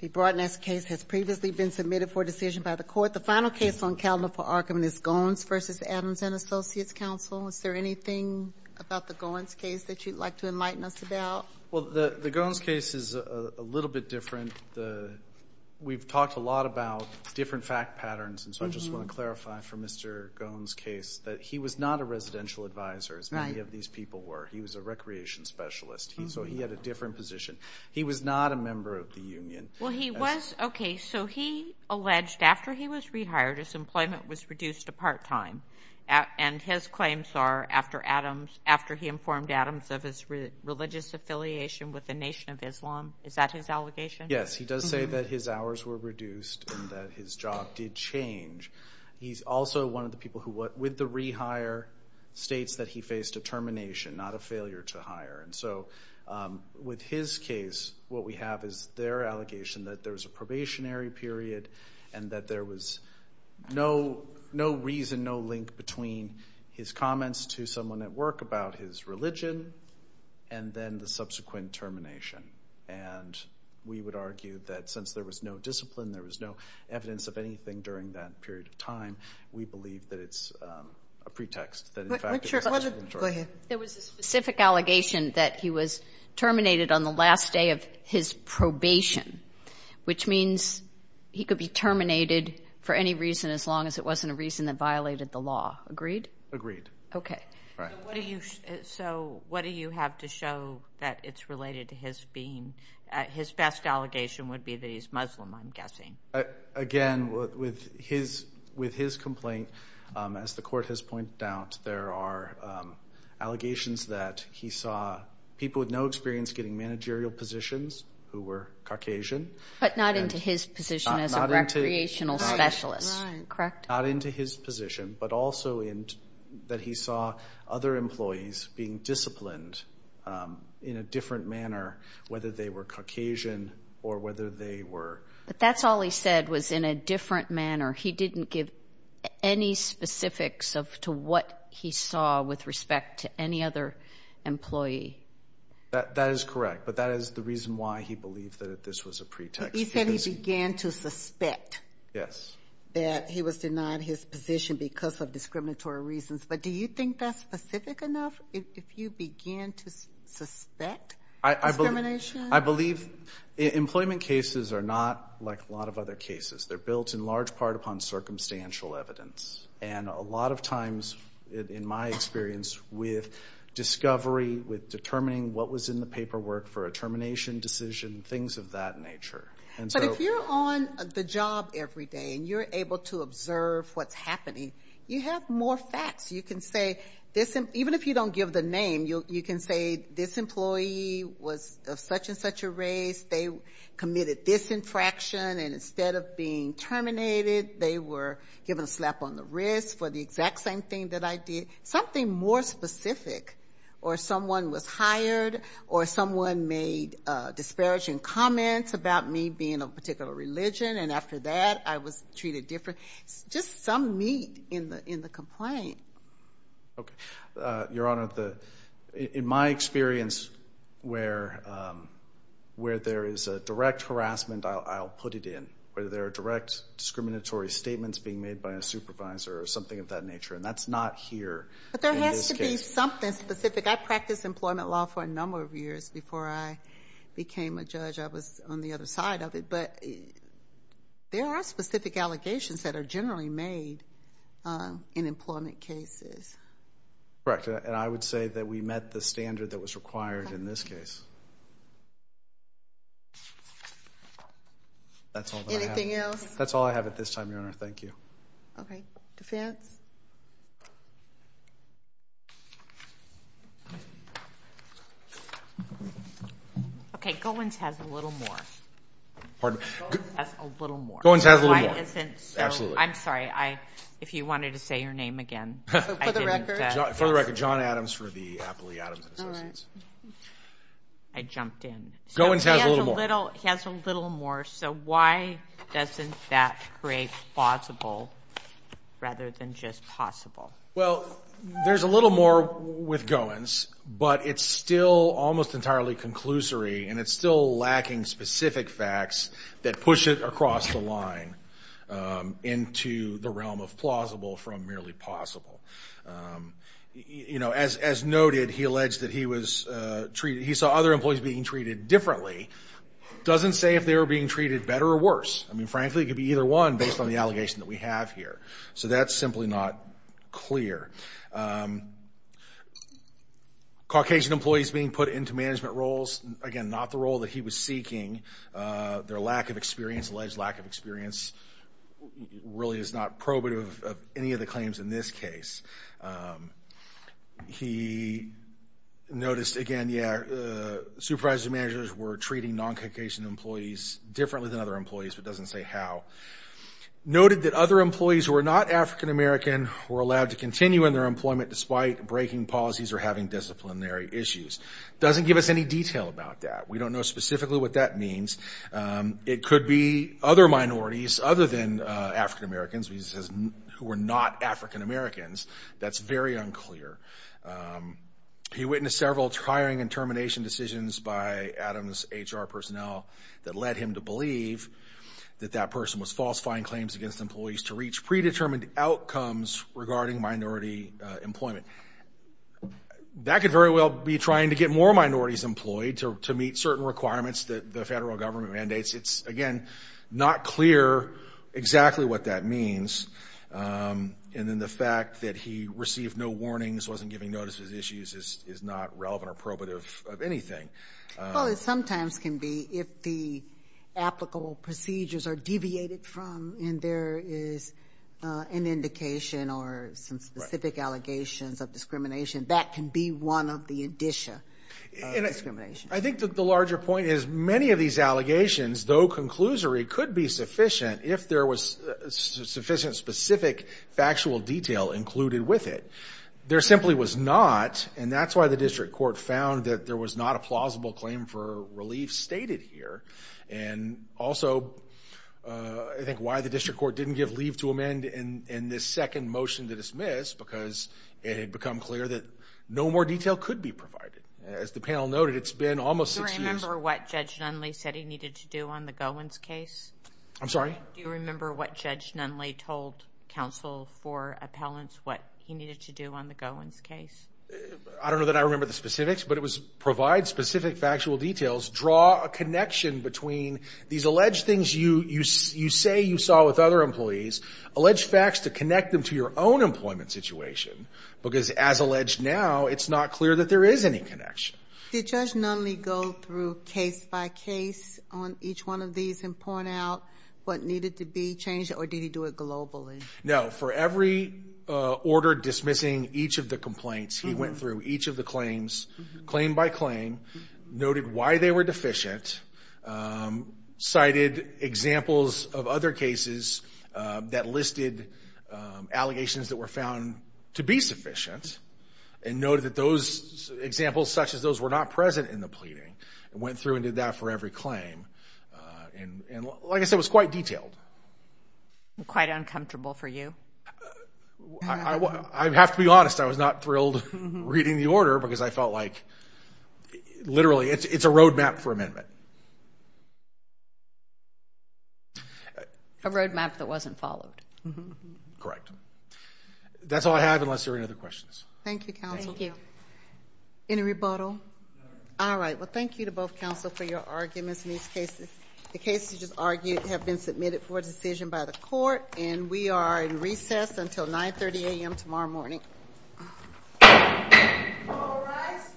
The Broadnest case has previously been submitted for decision by the Court. The final case on calendar for argument is Goens v. Adams & Associates Counsel. Is there anything about the Goens case that you'd like to enlighten us about? Well, the Goens case is a little bit different. We've talked a lot about different fact patterns, and so I just want to clarify for Mr. Goens' case that he was not a residential advisor, as many of these people were. He was a recreation specialist, so he had a different position. He was not a member of the union. Okay, so he alleged after he was rehired his employment was reduced to part-time, and his claims are after he informed Adams of his religious affiliation with the Nation of Islam. Is that his allegation? Yes, he does say that his hours were reduced and that his job did change. He's also one of the people who, with the rehire, states that he faced a termination, not a failure to hire. And so with his case, what we have is their allegation that there was a probationary period and that there was no reason, no link between his comments to someone at work about his religion and then the subsequent termination. And we would argue that since there was no discipline, there was no evidence of anything during that period of time, we believe that it's a pretext. Go ahead. There was a specific allegation that he was terminated on the last day of his probation, which means he could be terminated for any reason as long as it wasn't a reason that violated the law. Agreed? Agreed. Okay. So what do you have to show that it's related to his being? Again, with his complaint, as the court has pointed out, there are allegations that he saw people with no experience getting managerial positions who were Caucasian. But not into his position as a recreational specialist. Correct? Not into his position, but also that he saw other employees being disciplined in a different manner, whether they were Caucasian or whether they were. But that's all he said was in a different manner. He didn't give any specifics as to what he saw with respect to any other employee. That is correct. But that is the reason why he believed that this was a pretext. He said he began to suspect that he was denied his position because of discriminatory reasons. But do you think that's specific enough? If you began to suspect discrimination? I believe employment cases are not like a lot of other cases. They're built in large part upon circumstantial evidence. And a lot of times, in my experience, with discovery, with determining what was in the paperwork for a termination decision, things of that nature. But if you're on the job every day and you're able to observe what's happening, you have more facts. Even if you don't give the name, you can say this employee was of such and such a race. They committed this infraction. And instead of being terminated, they were given a slap on the wrist for the exact same thing that I did. Something more specific. Or someone was hired. Or someone made disparaging comments about me being of a particular religion. And after that, I was treated differently. Just some meat in the complaint. Okay. Your Honor, in my experience, where there is a direct harassment, I'll put it in. Whether there are direct discriminatory statements being made by a supervisor or something of that nature. And that's not here in this case. But there has to be something specific. I practiced employment law for a number of years before I became a judge. I was on the other side of it. But there are specific allegations that are generally made in employment cases. Correct. And I would say that we met the standard that was required in this case. Anything else? That's all I have at this time, Your Honor. Thank you. Okay. Defense? Okay. Goins has a little more. Goins has a little more. Absolutely. I'm sorry. If you wanted to say your name again, I didn't. For the record, John Adams for the Apley Adams and Associates. All right. I jumped in. Goins has a little more. He has a little more. So why doesn't that create plausible rather than just possible? Well, there's a little more with Goins. But it's still almost entirely conclusory, and it's still lacking specific facts that push it across the line into the realm of plausible from merely possible. As noted, he alleged that he saw other employees being treated differently. It doesn't say if they were being treated better or worse. I mean, frankly, it could be either one based on the allegation that we have here. So that's simply not clear. Caucasian employees being put into management roles, again, not the role that he was seeking. Their lack of experience, alleged lack of experience, really is not probative of any of the claims in this case. He noticed, again, yeah, supervisors and managers were treating non-Caucasian employees differently than other employees, but doesn't say how. Noted that other employees who were not African-American were allowed to continue in their employment despite breaking policies or having disciplinary issues. Doesn't give us any detail about that. We don't know specifically what that means. It could be other minorities other than African-Americans who were not African-Americans. That's very unclear. He witnessed several hiring and termination decisions by Adams HR personnel that led him to believe that that person was falsifying claims against employees to reach predetermined outcomes regarding minority employment. That could very well be trying to get more minorities employed to meet certain requirements that the federal government mandates. It's, again, not clear exactly what that means. And then the fact that he received no warnings, wasn't giving notice of his issues, is not relevant or probative of anything. Well, it sometimes can be if the applicable procedures are deviated from and there is an indication or some specific allegations of discrimination. That can be one of the indicia of discrimination. I think that the larger point is many of these allegations, though conclusory, could be sufficient if there was sufficient specific factual detail included with it. There simply was not. And that's why the district court found that there was not a plausible claim for relief stated here. And also, I think, why the district court didn't give leave to amend in this second motion to dismiss because it had become clear that no more detail could be provided. As the panel noted, it's been almost six years. Do you remember what Judge Nunley said he needed to do on the Gowans case? I'm sorry? Do you remember what Judge Nunley told counsel for appellants what he needed to do on the Gowans case? I don't know that I remember the specifics, but it was provide specific factual details, draw a connection between these alleged things you say you saw with other employees, alleged facts to connect them to your own employment situation because, as alleged now, it's not clear that there is any connection. Did Judge Nunley go through case by case on each one of these and point out what needed to be changed, or did he do it globally? No. For every order dismissing each of the complaints, he went through each of the claims, claim by claim, noted why they were deficient, cited examples of other cases that listed allegations that were found to be sufficient, and noted that those examples such as those were not present in the pleading and went through and did that for every claim. And, like I said, it was quite detailed. Quite uncomfortable for you? I have to be honest. I was not thrilled reading the order because I felt like literally it's a road map for amendment. A road map that wasn't followed. Correct. That's all I have unless there are any other questions. Thank you, counsel. Thank you. Any rebuttal? No. All right. Well, thank you to both counsel for your arguments in these cases. The cases you just argued have been submitted for decision by the court, and we are in recess until 9.30 a.m. tomorrow morning. All rise.